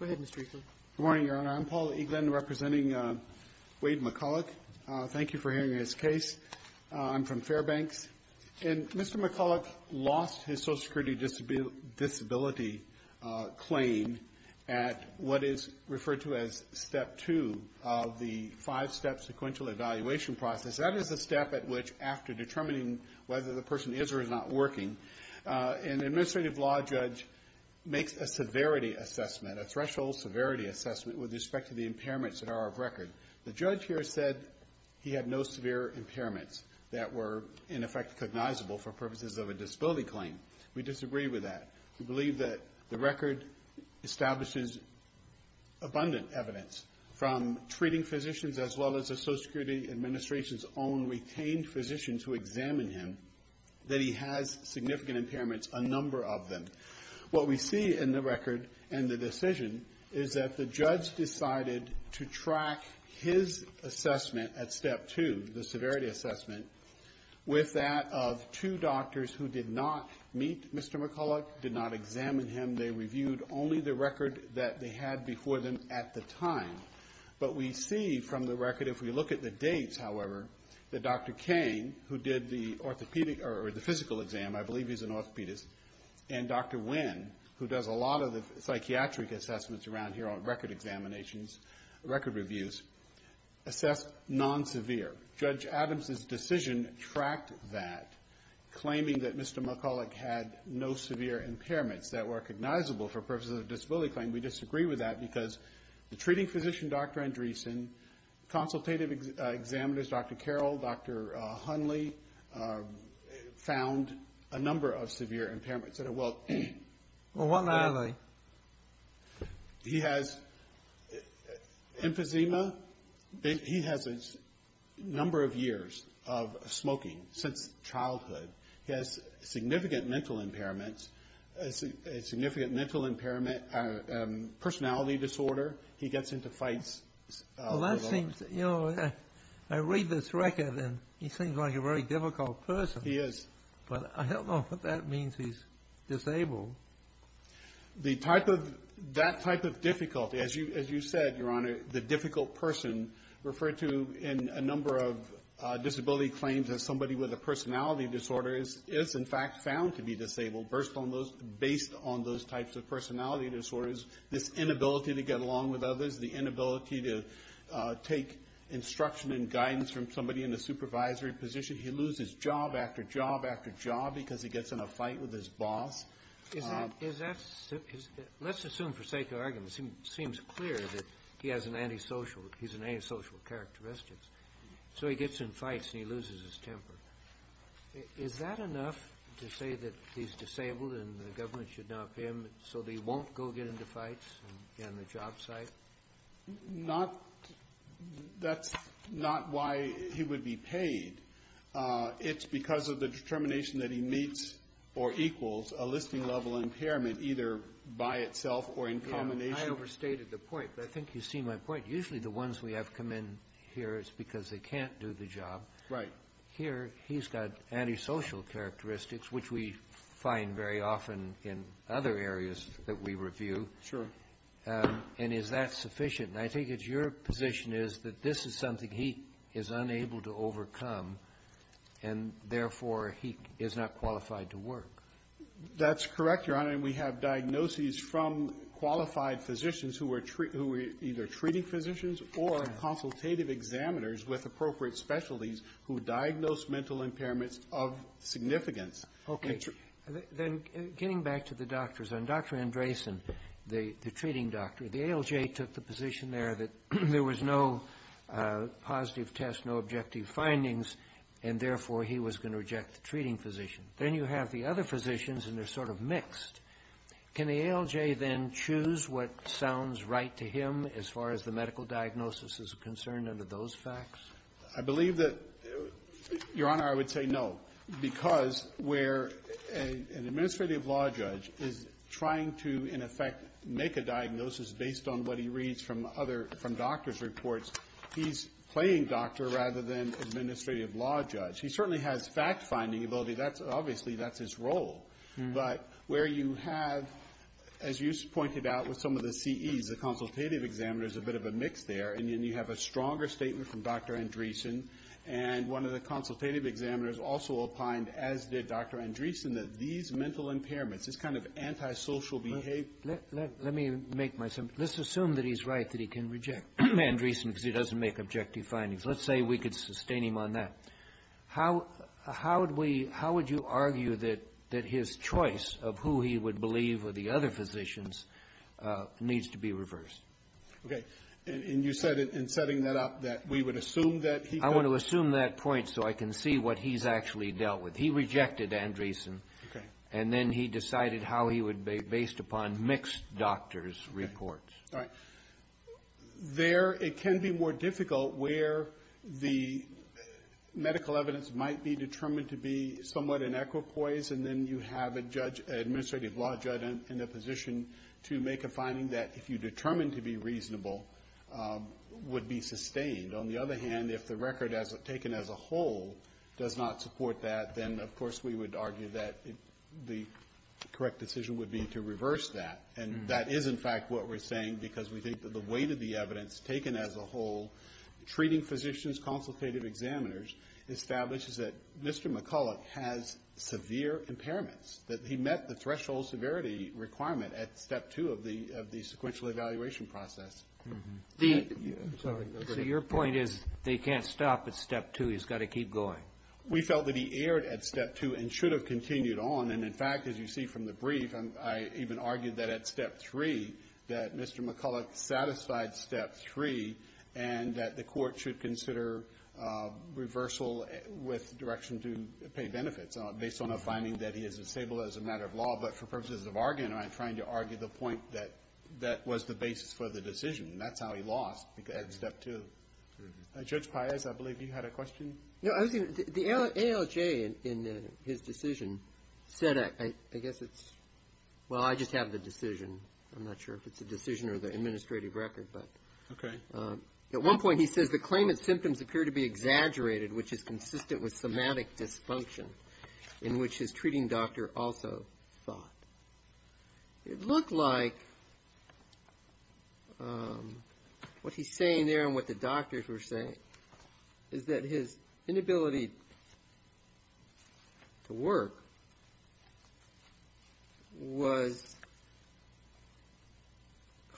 Good morning, Your Honor. I'm Paul Eaglin representing Wade McCullough. Thank you for hearing his case. I'm from Fairbanks. And Mr. McCullough lost his Social Security Disability claim at what is referred to as Step 2 of the five-step sequential evaluation process. That is the step at which, after determining whether the person is or is not working, an administrative law judge makes a severity assessment, a threshold severity assessment with respect to the impairments that are of record. The judge here said he had no severe impairments that were, in effect, cognizable for purposes of a disability claim. We disagree with that. We believe that the record establishes abundant evidence from treating physicians as well as the Social Security Administration's own retained physicians who examined him that he has significant impairments, a number of them. What we see in the record and the decision is that the judge decided to track his severity assessment with that of two doctors who did not meet Mr. McCullough, did not examine him. They reviewed only the record that they had before them at the time. But we see from the record, if we look at the dates, however, that Dr. Cain, who did the orthopedic or the physical exam, I believe he's an orthopedist, and Dr. Winn, who does a lot of the psychiatric assessments around here on record examinations, record reviews, assessed non-severe. Judge Adams's decision tracked that, claiming that Mr. McCullough had no severe impairments that were recognizable for purposes of a disability claim. We disagree with that because the treating physician, Dr. Andreesen, consultative examiners, Dr. Carroll, Dr. Hunley, found a number of severe impairments that are well... Well, what are they? He has emphysema. He has a number of years of smoking since childhood. He has significant mental impairments, a significant mental impairment, personality disorder. He gets into fights. Well, that seems, you know, I read this record and he seems like a very difficult person. He is. But I don't know what that means he's disabled. The type of, that type of difficulty, as you said, Your Honor, the difficult person referred to in a number of disability claims as somebody with a personality disorder is in fact found to be disabled based on those types of personality disorders. This inability to get along with others, the inability to take instruction and guidance from somebody in a supervisory position. He loses job after job after job because he gets in a fight with his boss. Is that, let's assume for sake of argument, it seems clear that he has an antisocial, he's an antisocial characteristic. So he gets in fights and he loses his temper. Is that enough to say that he's disabled and the government should not pay him so that he won't go get into fights on the job site? Not, that's not why he would be paid. It's because of the determination that he meets or equals a listing level impairment either by itself or in combination. I overstated the point, but I think you see my point. Usually the ones we have come in here is because they can't do the job. Right. Here he's got antisocial characteristics, which we find very often in other areas that we review. Sure. And is that sufficient? And I think it's your position is that this is something he is unable to overcome and therefore he is not qualified to work. That's correct, Your Honor. And we have diagnoses from qualified physicians who are either treating physicians or consultative examiners with appropriate specialties who diagnose mental impairments of significance. Okay. Then getting back to the doctors, on Dr. Andresen, the treating doctor, the ALJ took the position there that there was no positive test, no objective findings, and therefore he was going to reject the treating physician. Then you have the other physicians and they're sort of mixed. Can the ALJ then choose what sounds right to him as far as the medical diagnosis is concerned under those facts? I believe that, Your Honor, I would say no, because where an administrative law judge is trying to, in effect, make a diagnosis based on what he reads from other — from doctor's reports, he's playing doctor rather than administrative law judge. He certainly has fact-finding ability. That's — obviously, that's his role. But where you have, as you pointed out with some of the CEs, the consultative examiners, a bit of a mix there, and then you have a stronger statement from Dr. Andresen, and one of the consultative examiners also opined, as did Dr. Andresen, that these mental impairments, this kind of antisocial behavior — Let me make my — let's assume that he's right, that he can reject Andresen because he doesn't make objective findings. Let's say we could sustain him on that. How would we — how would you argue that his choice of who he would believe were the other physicians needs to be reversed? Okay. And you said in setting that up that we would assume that he could — I want to assume that point so I can see what he's actually dealt with. He rejected Andresen. Okay. And then he decided how he would be based upon mixed doctor's reports. All right. There, it can be more difficult where the medical evidence might be determined to be somewhat inequipoise, and then you have a judge — an administrative law judge in a position to make a finding that, if you determine to be reasonable, would be sustained. On the other hand, if the record as — taken as a whole does not support that, then, of course, we would argue that the correct decision would be to reverse that. And that is, in fact, what we're saying because we think that the weight of the evidence taken as a whole, treating physicians, consultative examiners, establishes that Mr. McCulloch has severe impairments, that he met the threshold severity requirement at Step 2 of the sequential evaluation process. The — I'm sorry. Go ahead. So your point is that he can't stop at Step 2. He's got to keep going. We felt that he erred at Step 2 and should have continued on. And, in fact, as you see from the brief, I even argued that at Step 3, that Mr. McCulloch satisfied Step 3 and that the Court should consider reversal with direction to pay benefits based on a disabled as a matter of law. But for purposes of argument, I'm trying to argue the point that that was the basis for the decision. And that's how he lost at Step 2. Judge Paez, I believe you had a question. No, I was going to — the ALJ, in his decision, said — I guess it's — well, I just have the decision. I'm not sure if it's a decision or the administrative record, but — Okay. At one point, he says the claimant's symptoms appear to be exaggerated, which is also thought. It looked like what he's saying there and what the doctors were saying is that his inability to work was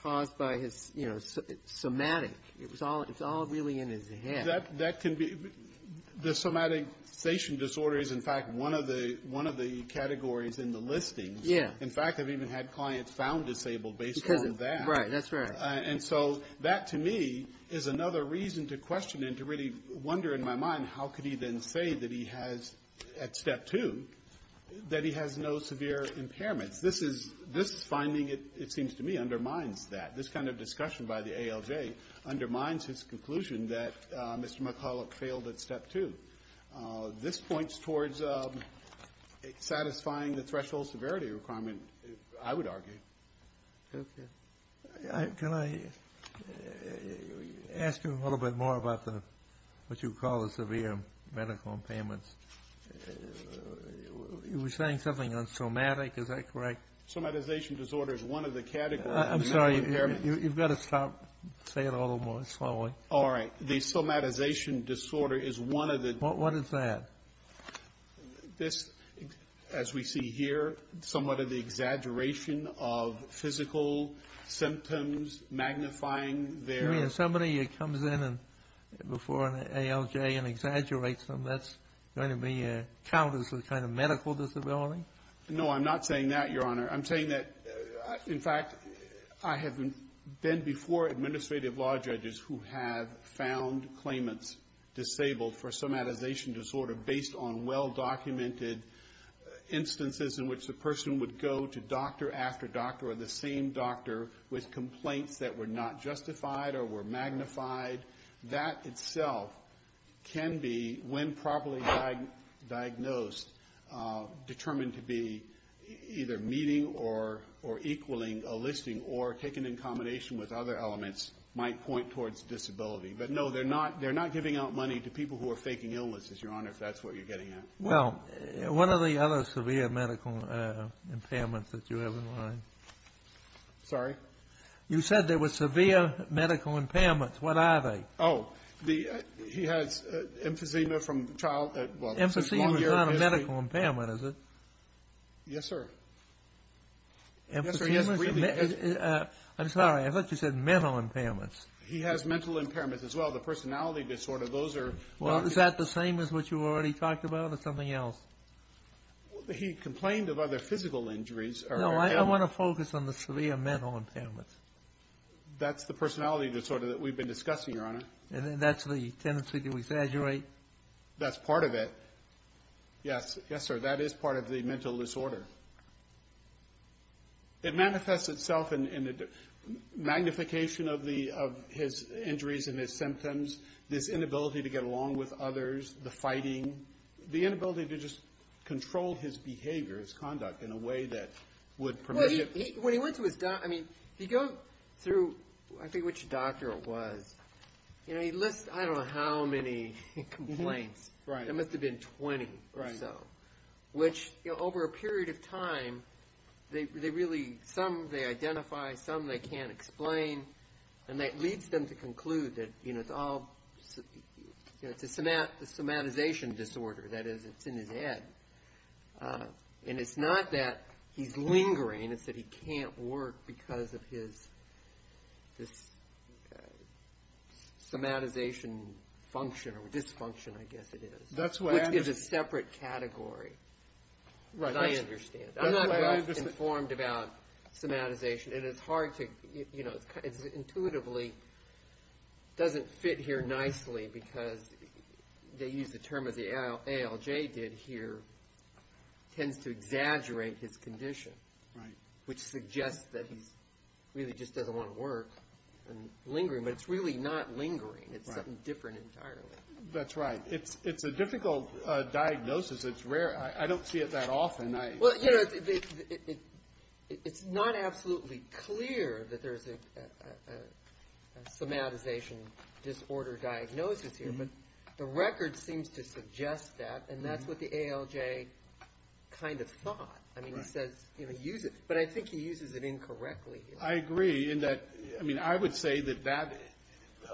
caused by his, you know, somatic. It was all — it's all really in his head. That can be — the somatization disorder is, in fact, one of the categories in the listings. In fact, I've even had clients found disabled based on that. Right. That's right. And so that, to me, is another reason to question and to really wonder in my mind, how could he then say that he has, at Step 2, that he has no severe impairments? This is — this finding, it seems to me, undermines that. This kind of discussion by the ALJ undermines his conclusion that Mr. McCulloch failed at Step 2. This points towards satisfying the threshold severity requirement, I would argue. Okay. Can I ask you a little bit more about the — what you call the severe medical impairments? You were saying something on somatic. Is that correct? Somatization disorder is one of the categories. I'm sorry. You've got to stop. Say it a little more slowly. All right. The somatization disorder is one of the — What is that? This, as we see here, somewhat of the exaggeration of physical symptoms magnifying their — You mean if somebody comes in before an ALJ and exaggerates them, that's going to be a count as a kind of medical disability? No, I'm not saying that, Your Honor. I'm saying that, in fact, I have been before administrative law judges who have found claimants disabled for somatization disorder based on well-documented instances in which the person would go to doctor after doctor or the same doctor with complaints that were not justified or were magnified. That itself can be, when properly diagnosed, determined to be either meeting or equaling a listing or taken in combination with other elements, might point towards disability. But no, they're not — they're not giving out money to people who are faking illnesses, Your Honor, if that's what you're getting at. Well, what are the other severe medical impairments that you have in mind? Sorry? You said there were severe medical impairments. What are they? Oh, the — he has emphysema from child — Emphysema is not a medical impairment, is it? Yes, sir. Emphysema is — Yes, sir. Yes, briefly. I'm sorry. I thought you said mental impairments. He has mental impairments as well. The personality disorder, those are — Well, is that the same as what you already talked about or something else? He complained of other physical injuries or — No, I want to focus on the severe mental impairments. That's the personality disorder that we've been discussing, Your Honor. And that's the tendency to exaggerate. That's part of it. Yes. Yes, sir. That is part of the mental disorder. It manifests itself in the magnification of the — of his injuries and his symptoms, this inability to get along with others, the fighting, the inability to just control his behavior, his conduct, in a way that would permit him — Well, he — when he went to his doctor — I mean, if you go through, I think, which doctor it was, you know, he lists, I don't know how many complaints. Right. There must have been 20 or so. Which, you know, over a period of time, they really — some they identify, some they can't explain. And that leads them to conclude that, you know, it's all — you know, it's a somatization disorder. That is, it's in his head. And it's not that he's lingering. It's that he can't work because of his — this somatization function or dysfunction, I guess it is. That's what I understand. Which is a separate category. Right. As I understand. I'm not well-informed about somatization. And it's hard to — you know, it's intuitively — doesn't fit here nicely because they use the term, as the ALJ did here, tends to exaggerate his condition. Right. Which suggests that he really just doesn't want to work and lingering. But it's really not lingering. It's something different entirely. That's right. It's a difficult diagnosis. It's rare. I don't see it that often. Well, you know, it's not absolutely clear that there's a somatization disorder diagnosis here. But the record seems to suggest that. And that's what the ALJ kind of thought. I mean, he says, you know, use it. But I think he uses it incorrectly. I agree in that — I mean, I would say that that,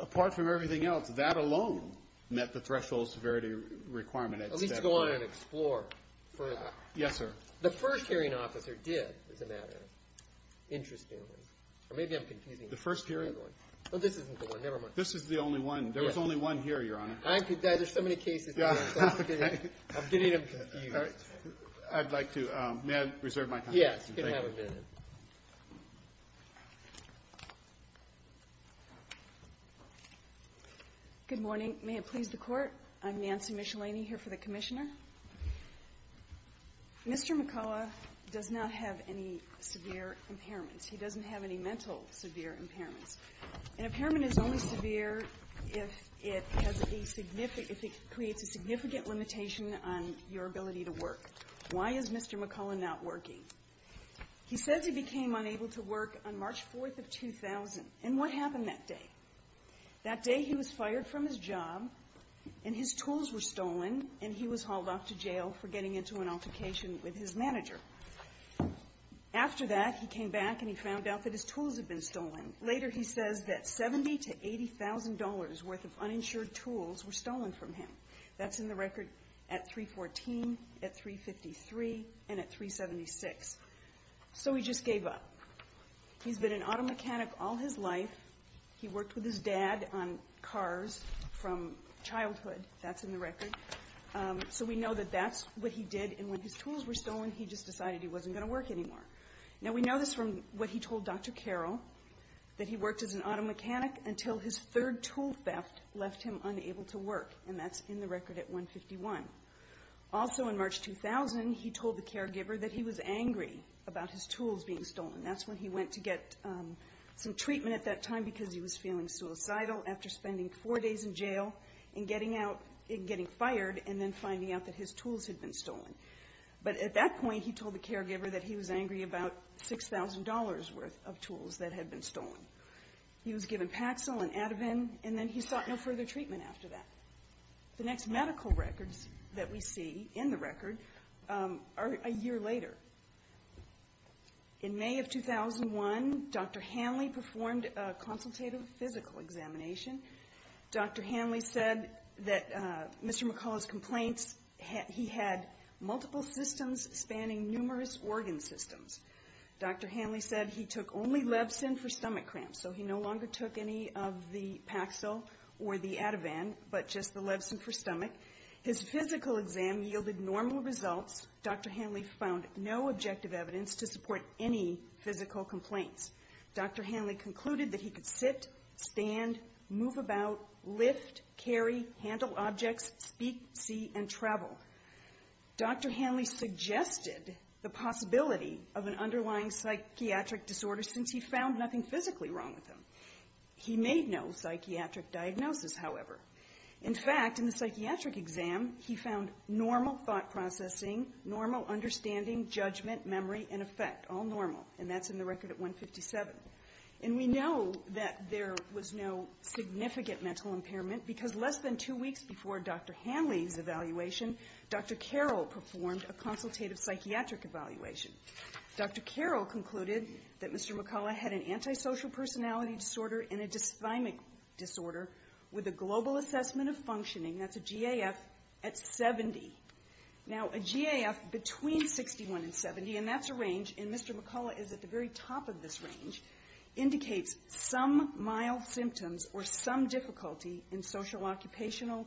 apart from everything else, that alone met the threshold severity requirement. At least to go on and explore further. Yes, sir. The first hearing officer did, as a matter of interest. Or maybe I'm confusing — The first hearing — No, this isn't the one. Never mind. This is the only one. There was only one here, Your Honor. I could — there's so many cases. Yeah. I'm getting them confused. I'd like to — may I reserve my time? Yes, you can have a minute. Good morning. May it please the Court. I'm Nancy Michelini here for the Commissioner. Mr. McCullough does not have any severe impairments. He doesn't have any mental severe impairments. An impairment is only severe if it has a significant — if it creates a significant limitation on your ability to work. Why is Mr. McCullough not working? He says he became unable to work on March 4th of 2000. And what happened that day? That day, he was fired from his job, and his tools were stolen, and he was hauled off to jail for getting into an altercation with his manager. After that, he came back, and he found out that his tools had been stolen. Later, he says that $70,000 to $80,000 worth of uninsured tools were stolen from him. That's in the record at 314, at 353, and at 376. So he just gave up. He's been an auto mechanic all his life. He worked with his dad on cars from childhood. That's in the record. So we know that that's what he did. And when his tools were stolen, he just decided he wasn't going to work anymore. Now, we know this from what he told Dr. Carroll, that he worked as an auto mechanic until his third tool theft left him unable to work. And that's in the record at 151. Also, in March 2000, he told the caregiver that he was angry about his tools being stolen. That's when he went to get some treatment at that time because he was feeling suicidal after spending four days in jail and getting out and getting fired and then finding out that his tools had been stolen. But at that point, he told the caregiver that he was angry about $6,000 worth of tools that had been stolen. He was given Paxil and Ativan, and then he sought no further treatment after that. The next medical records that we see in the record are a year later. In May of 2001, Dr. Hanley performed a consultative physical examination. Dr. Hanley said that Mr. McCullough's complaints, he had multiple systems spanning numerous organ systems. Dr. Hanley said he took only Levsin for stomach cramps. So he no longer took any of the Paxil or the Ativan, but just the Levsin for stomach. His physical exam yielded normal results. Dr. Hanley found no objective evidence to support any physical complaints. Dr. Hanley concluded that he could sit, stand, move about, lift, carry, handle objects, speak, see, and travel. Dr. Hanley suggested the possibility of an underlying psychiatric disorder since he found nothing physically wrong with him. He made no psychiatric diagnosis, however. In fact, in the psychiatric exam, he found normal thought processing, normal understanding, judgment, memory, and effect, all normal. And that's in the record at 157. And we know that there was no significant mental impairment because less than two weeks before Dr. Hanley's evaluation, Dr. Carroll performed a consultative psychiatric evaluation. Dr. Carroll concluded that Mr. McCullough had an antisocial personality disorder and a dysthymic disorder with a global assessment of functioning, that's a GAF, at 70. Now, a GAF between 61 and 70, and that's a range, and Mr. McCullough is at the very top of this range, indicates some mild symptoms or some difficulty in social occupational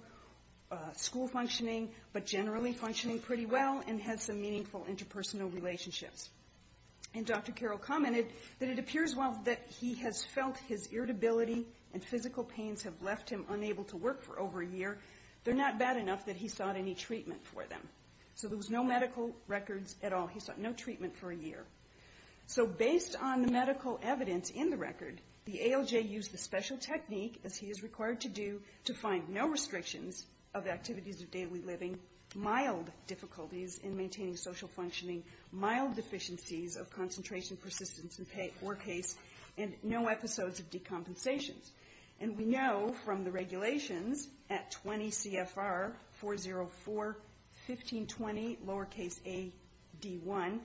school functioning, but generally functioning pretty well and has some meaningful interpersonal relationships. And Dr. Carroll commented that it appears while that he has felt his irritability and physical pains have left him unable to work for over a year, they're not bad enough that he sought any treatment for them. So there was no medical records at all. He sought no treatment for a year. So based on the medical evidence in the record, the ALJ used the special technique, as he is required to do, to find no restrictions of activities of daily living, mild difficulties in maintaining social functioning, mild deficiencies of concentration, persistence, or case, and no episodes of decompensations. And we know from the regulations at 20 CFR 404-1520, lowercase a-d-1,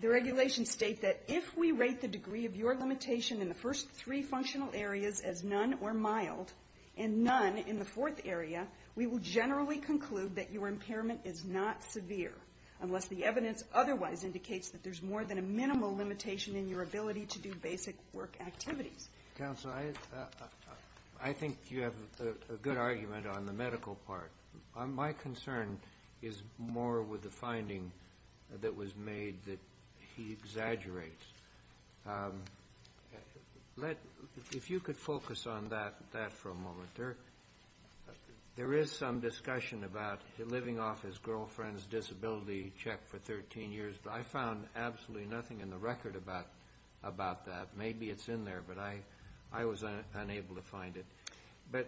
the regulations state that if we rate the degree of your limitation in the first three functional areas as none or mild, and none in the fourth area, we will generally conclude that your impairment is not severe, unless the evidence otherwise indicates that there's more than a minimal limitation in your ability to do basic work activities. Kennedy. Counsel, I think you have a good argument on the medical part. My concern is more with the finding that was made that he exaggerates. Let's see if you could focus on that for a moment. There is some discussion about him living off his girlfriend's disability check for 13 years, but I found absolutely nothing in the record about that. Maybe it's in there, but I was unable to find it.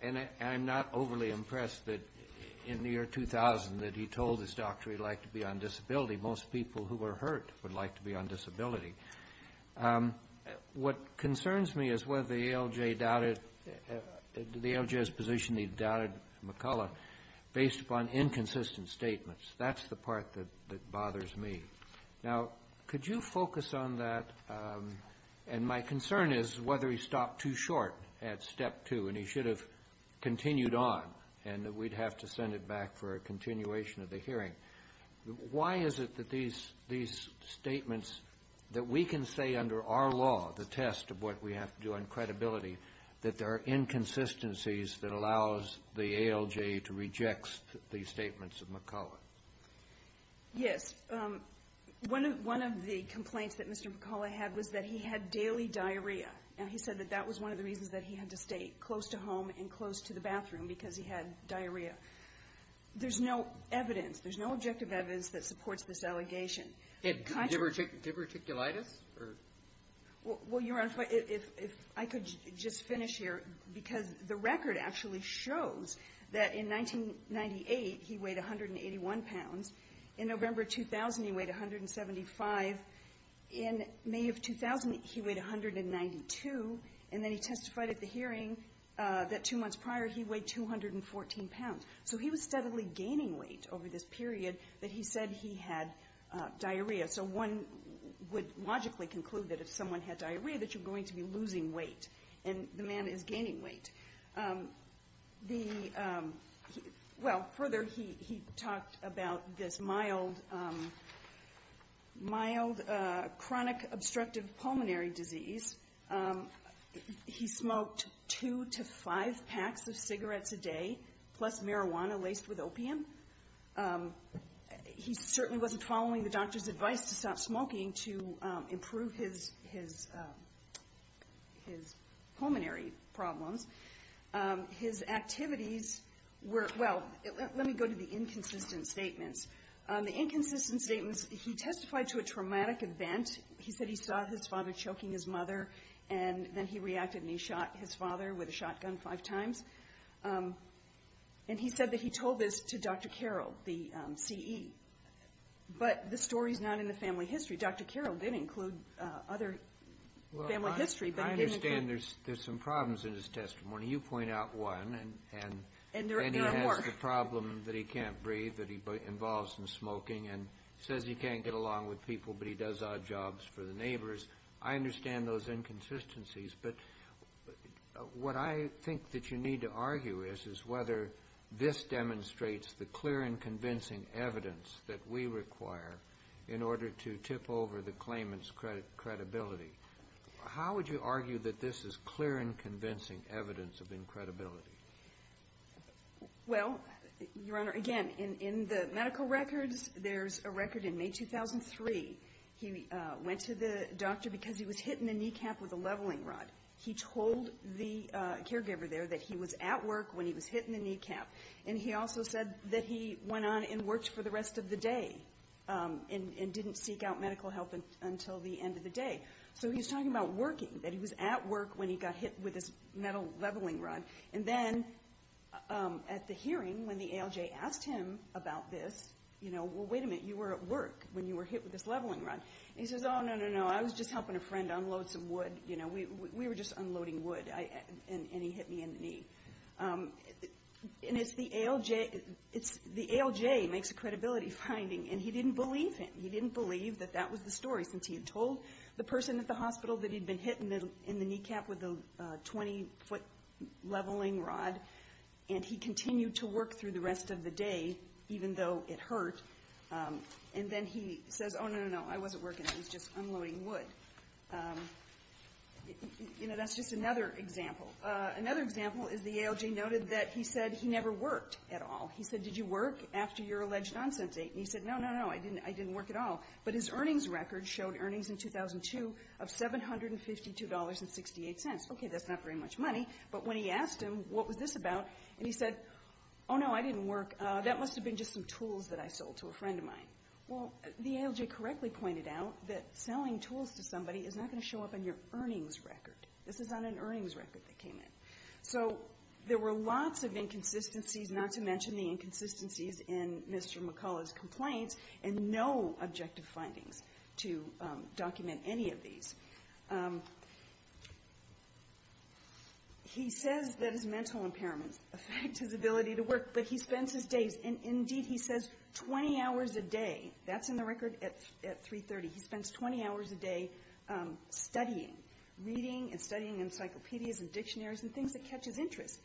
And I'm not overly impressed that in the year 2000 that he told his doctor he'd like to be on disability. Most people who were hurt would like to be on disability. What concerns me is whether the ALJ doubted the ALJ's position that he doubted McCulloch based upon inconsistent statements. That's the part that bothers me. Now, could you focus on that? And my concern is whether he stopped too short at step two, and he should have continued on, and we'd have to send it back for a continuation of the hearing. Why is it that these statements that we can say under our law, the test of what we have to do on credibility, that there are inconsistencies that allows the ALJ to reject the statements of McCulloch? Yes. One of the complaints that Mr. McCulloch had was that he had daily diarrhea. And he said that that was one of the reasons that he had to stay close to home and close to the bathroom, because he had diarrhea. There's no evidence. There's no objective evidence that supports this allegation. And did he have reticulitis? Well, Your Honor, if I could just finish here, because the record actually shows that in 1998, he weighed 181 pounds. In November 2000, he weighed 175. In May of 2000, he weighed 192. And then he testified at the hearing that two months prior, he weighed 214 pounds. So he was steadily gaining weight over this period that he said he had diarrhea. So one would logically conclude that if someone had diarrhea, that you're going to be losing weight, and the man is gaining weight. The — well, further, he talked about this mild — mild chronic obstructive pulmonary disease. He smoked two to five packs of cigarettes a day, plus marijuana laced with opium. He certainly wasn't following the doctor's advice to stop smoking to improve his — his — his pulmonary problems. His activities were — well, let me go to the inconsistent statements. The inconsistent statements — he testified to a traumatic event. He said he saw his father choking his mother, and then he reacted, and he shot his father with a shotgun five times. And he said that he told this to Dr. Carroll, the C.E. But the story's not in the family history. Dr. Carroll did include other family history, but he didn't — Well, I understand there's — there's some problems in his testimony. You point out one, and then he has the problem that he can't breathe, that he involves in smoking, and says he can't get along with people, but he does odd jobs for the neighbors. I understand those inconsistencies. But what I think that you need to argue is, is whether this demonstrates the clear and convincing evidence that we require in order to tip over the claimant's credibility. How would you argue that this is clear and convincing evidence of incredibility? Well, Your Honor, again, in the medical records, there's a record in May 2003. He went to the doctor because he was hit in the kneecap with a leveling rod. He told the caregiver there that he was at work when he was hit in the kneecap. And he also said that he went on and worked for the rest of the day and didn't seek out medical help until the end of the day. So he's talking about working, that he was at work when he got hit with this metal leveling rod. And then at the hearing, when the ALJ asked him about this, you know, well, wait a minute, you were at work when you were hit with this leveling rod. And he says, oh, no, no, no, I was just helping a friend unload some wood. You know, we were just unloading wood, and he hit me in the knee. And it's the ALJ, it's the ALJ makes a credibility finding, and he didn't believe him. He didn't believe that that was the story, since he had told the person at the hospital that he'd been hit in the kneecap with a 20-foot leveling rod, and he continued to work through the rest of the day, even though it hurt. And then he says, oh, no, no, no, I wasn't working, I was just unloading wood. You know, that's just another example. Another example is the ALJ noted that he said he never worked at all. He said, did you work after your alleged on-sent date? And he said, no, no, no, I didn't work at all. But his earnings record showed earnings in 2002 of $752.68. Okay, that's not very much money. But when he asked him, what was this about, and he said, oh, no, I didn't work. That must have been just some tools that I sold to a friend of mine. Well, the ALJ correctly pointed out that selling tools to somebody is not going to show up on your earnings record. This is on an earnings record that came in. So there were lots of inconsistencies, not to mention the inconsistencies in Mr. McCullough's complaints, and no objective findings to document any of these. He says that his mental impairments affect his ability to work. But he spends his days, and indeed, he says 20 hours a day. That's in the record at 3.30. He spends 20 hours a day studying, reading and studying encyclopedias and dictionaries and things that catch his interest.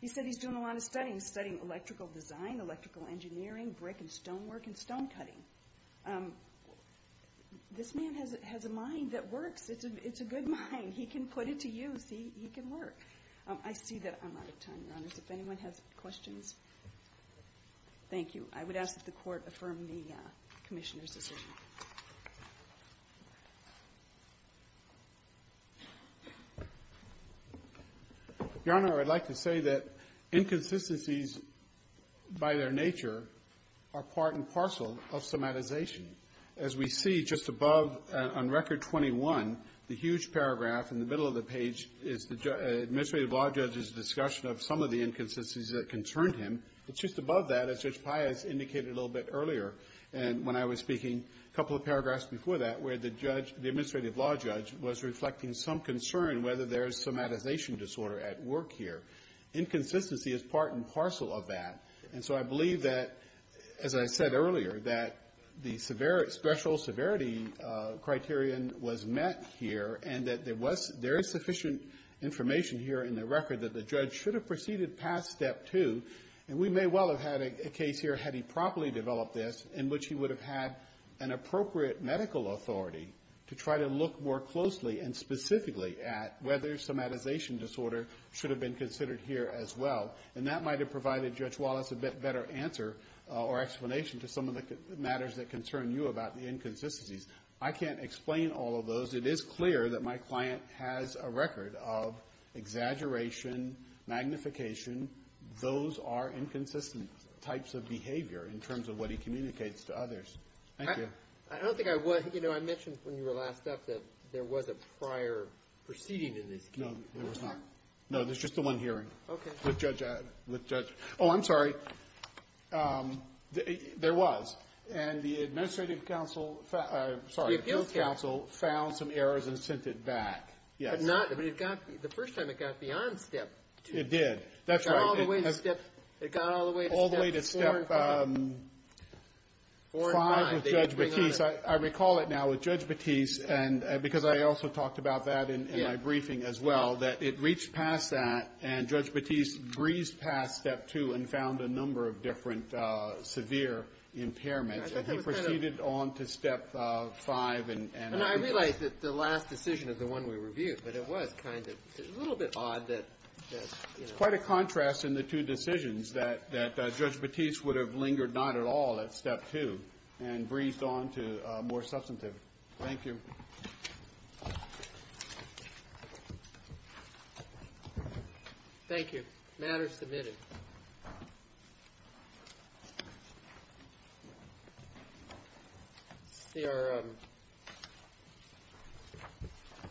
He said he's doing a lot of studying, studying electrical design, electrical engineering, brick and stone work, and stone cutting. This man has a mind that works. It's a good mind. He can put it to use. He can work. I see that I'm out of time, Your Honors. If anyone has questions. Thank you. I would ask that the Court affirm the Commissioner's decision. Your Honor, I would like to say that inconsistencies, by their nature, are part and parcel of somatization. As we see just above, on Record 21, the huge paragraph in the middle of the page is the Administrative Law Judge's discussion of some of the inconsistencies that concerned him. Just above that, as Judge Pius indicated a little bit earlier when I was speaking, a couple of paragraphs before that, where the Administrative Law Judge was reflecting some concern whether there is somatization disorder at work here. Inconsistency is part and parcel of that. So I believe that, as I said earlier, that the special severity criterion was met here and that there is sufficient information here in the record that the judge should have proceeded past Step 2. We may well have had a case here, had he properly developed this, in which he would have had an appropriate medical authority to try to look more closely and specifically at whether somatization disorder should have been considered here as well. That might have provided Judge Wallace a better answer or explanation to some of the matters that concern you about the inconsistencies. I can't explain all of those. It is clear that my client has a record of exaggeration, magnification. Those are inconsistent types of behavior in terms of what he communicates to others. Thank you. I don't think I was. You know, I mentioned when you were last up that there was a prior proceeding in this case. No, there was not. No, there's just the one hearing. Okay. With Judge Ed. With Judge Ed. Oh, I'm sorry. There was. And the administrative counsel found the appeals counsel found some inconsistencies and errors and sent it back. Yes. But not, I mean, it got, the first time it got beyond step two. It did. That's right. It got all the way to step, it got all the way to step four and five. All the way to step five with Judge Batiste. I recall it now with Judge Batiste, and because I also talked about that in my briefing as well, that it reached past that, and Judge Batiste breezed past step two and found a number of different severe impairments. And he proceeded on to step five. And I realize that the last decision is the one we reviewed, but it was kind of, a little bit odd that, you know. It's quite a contrast in the two decisions that Judge Batiste would have lingered not at all at step two and breezed on to more substantive. Thank you. Thank you. Matter submitted. They are...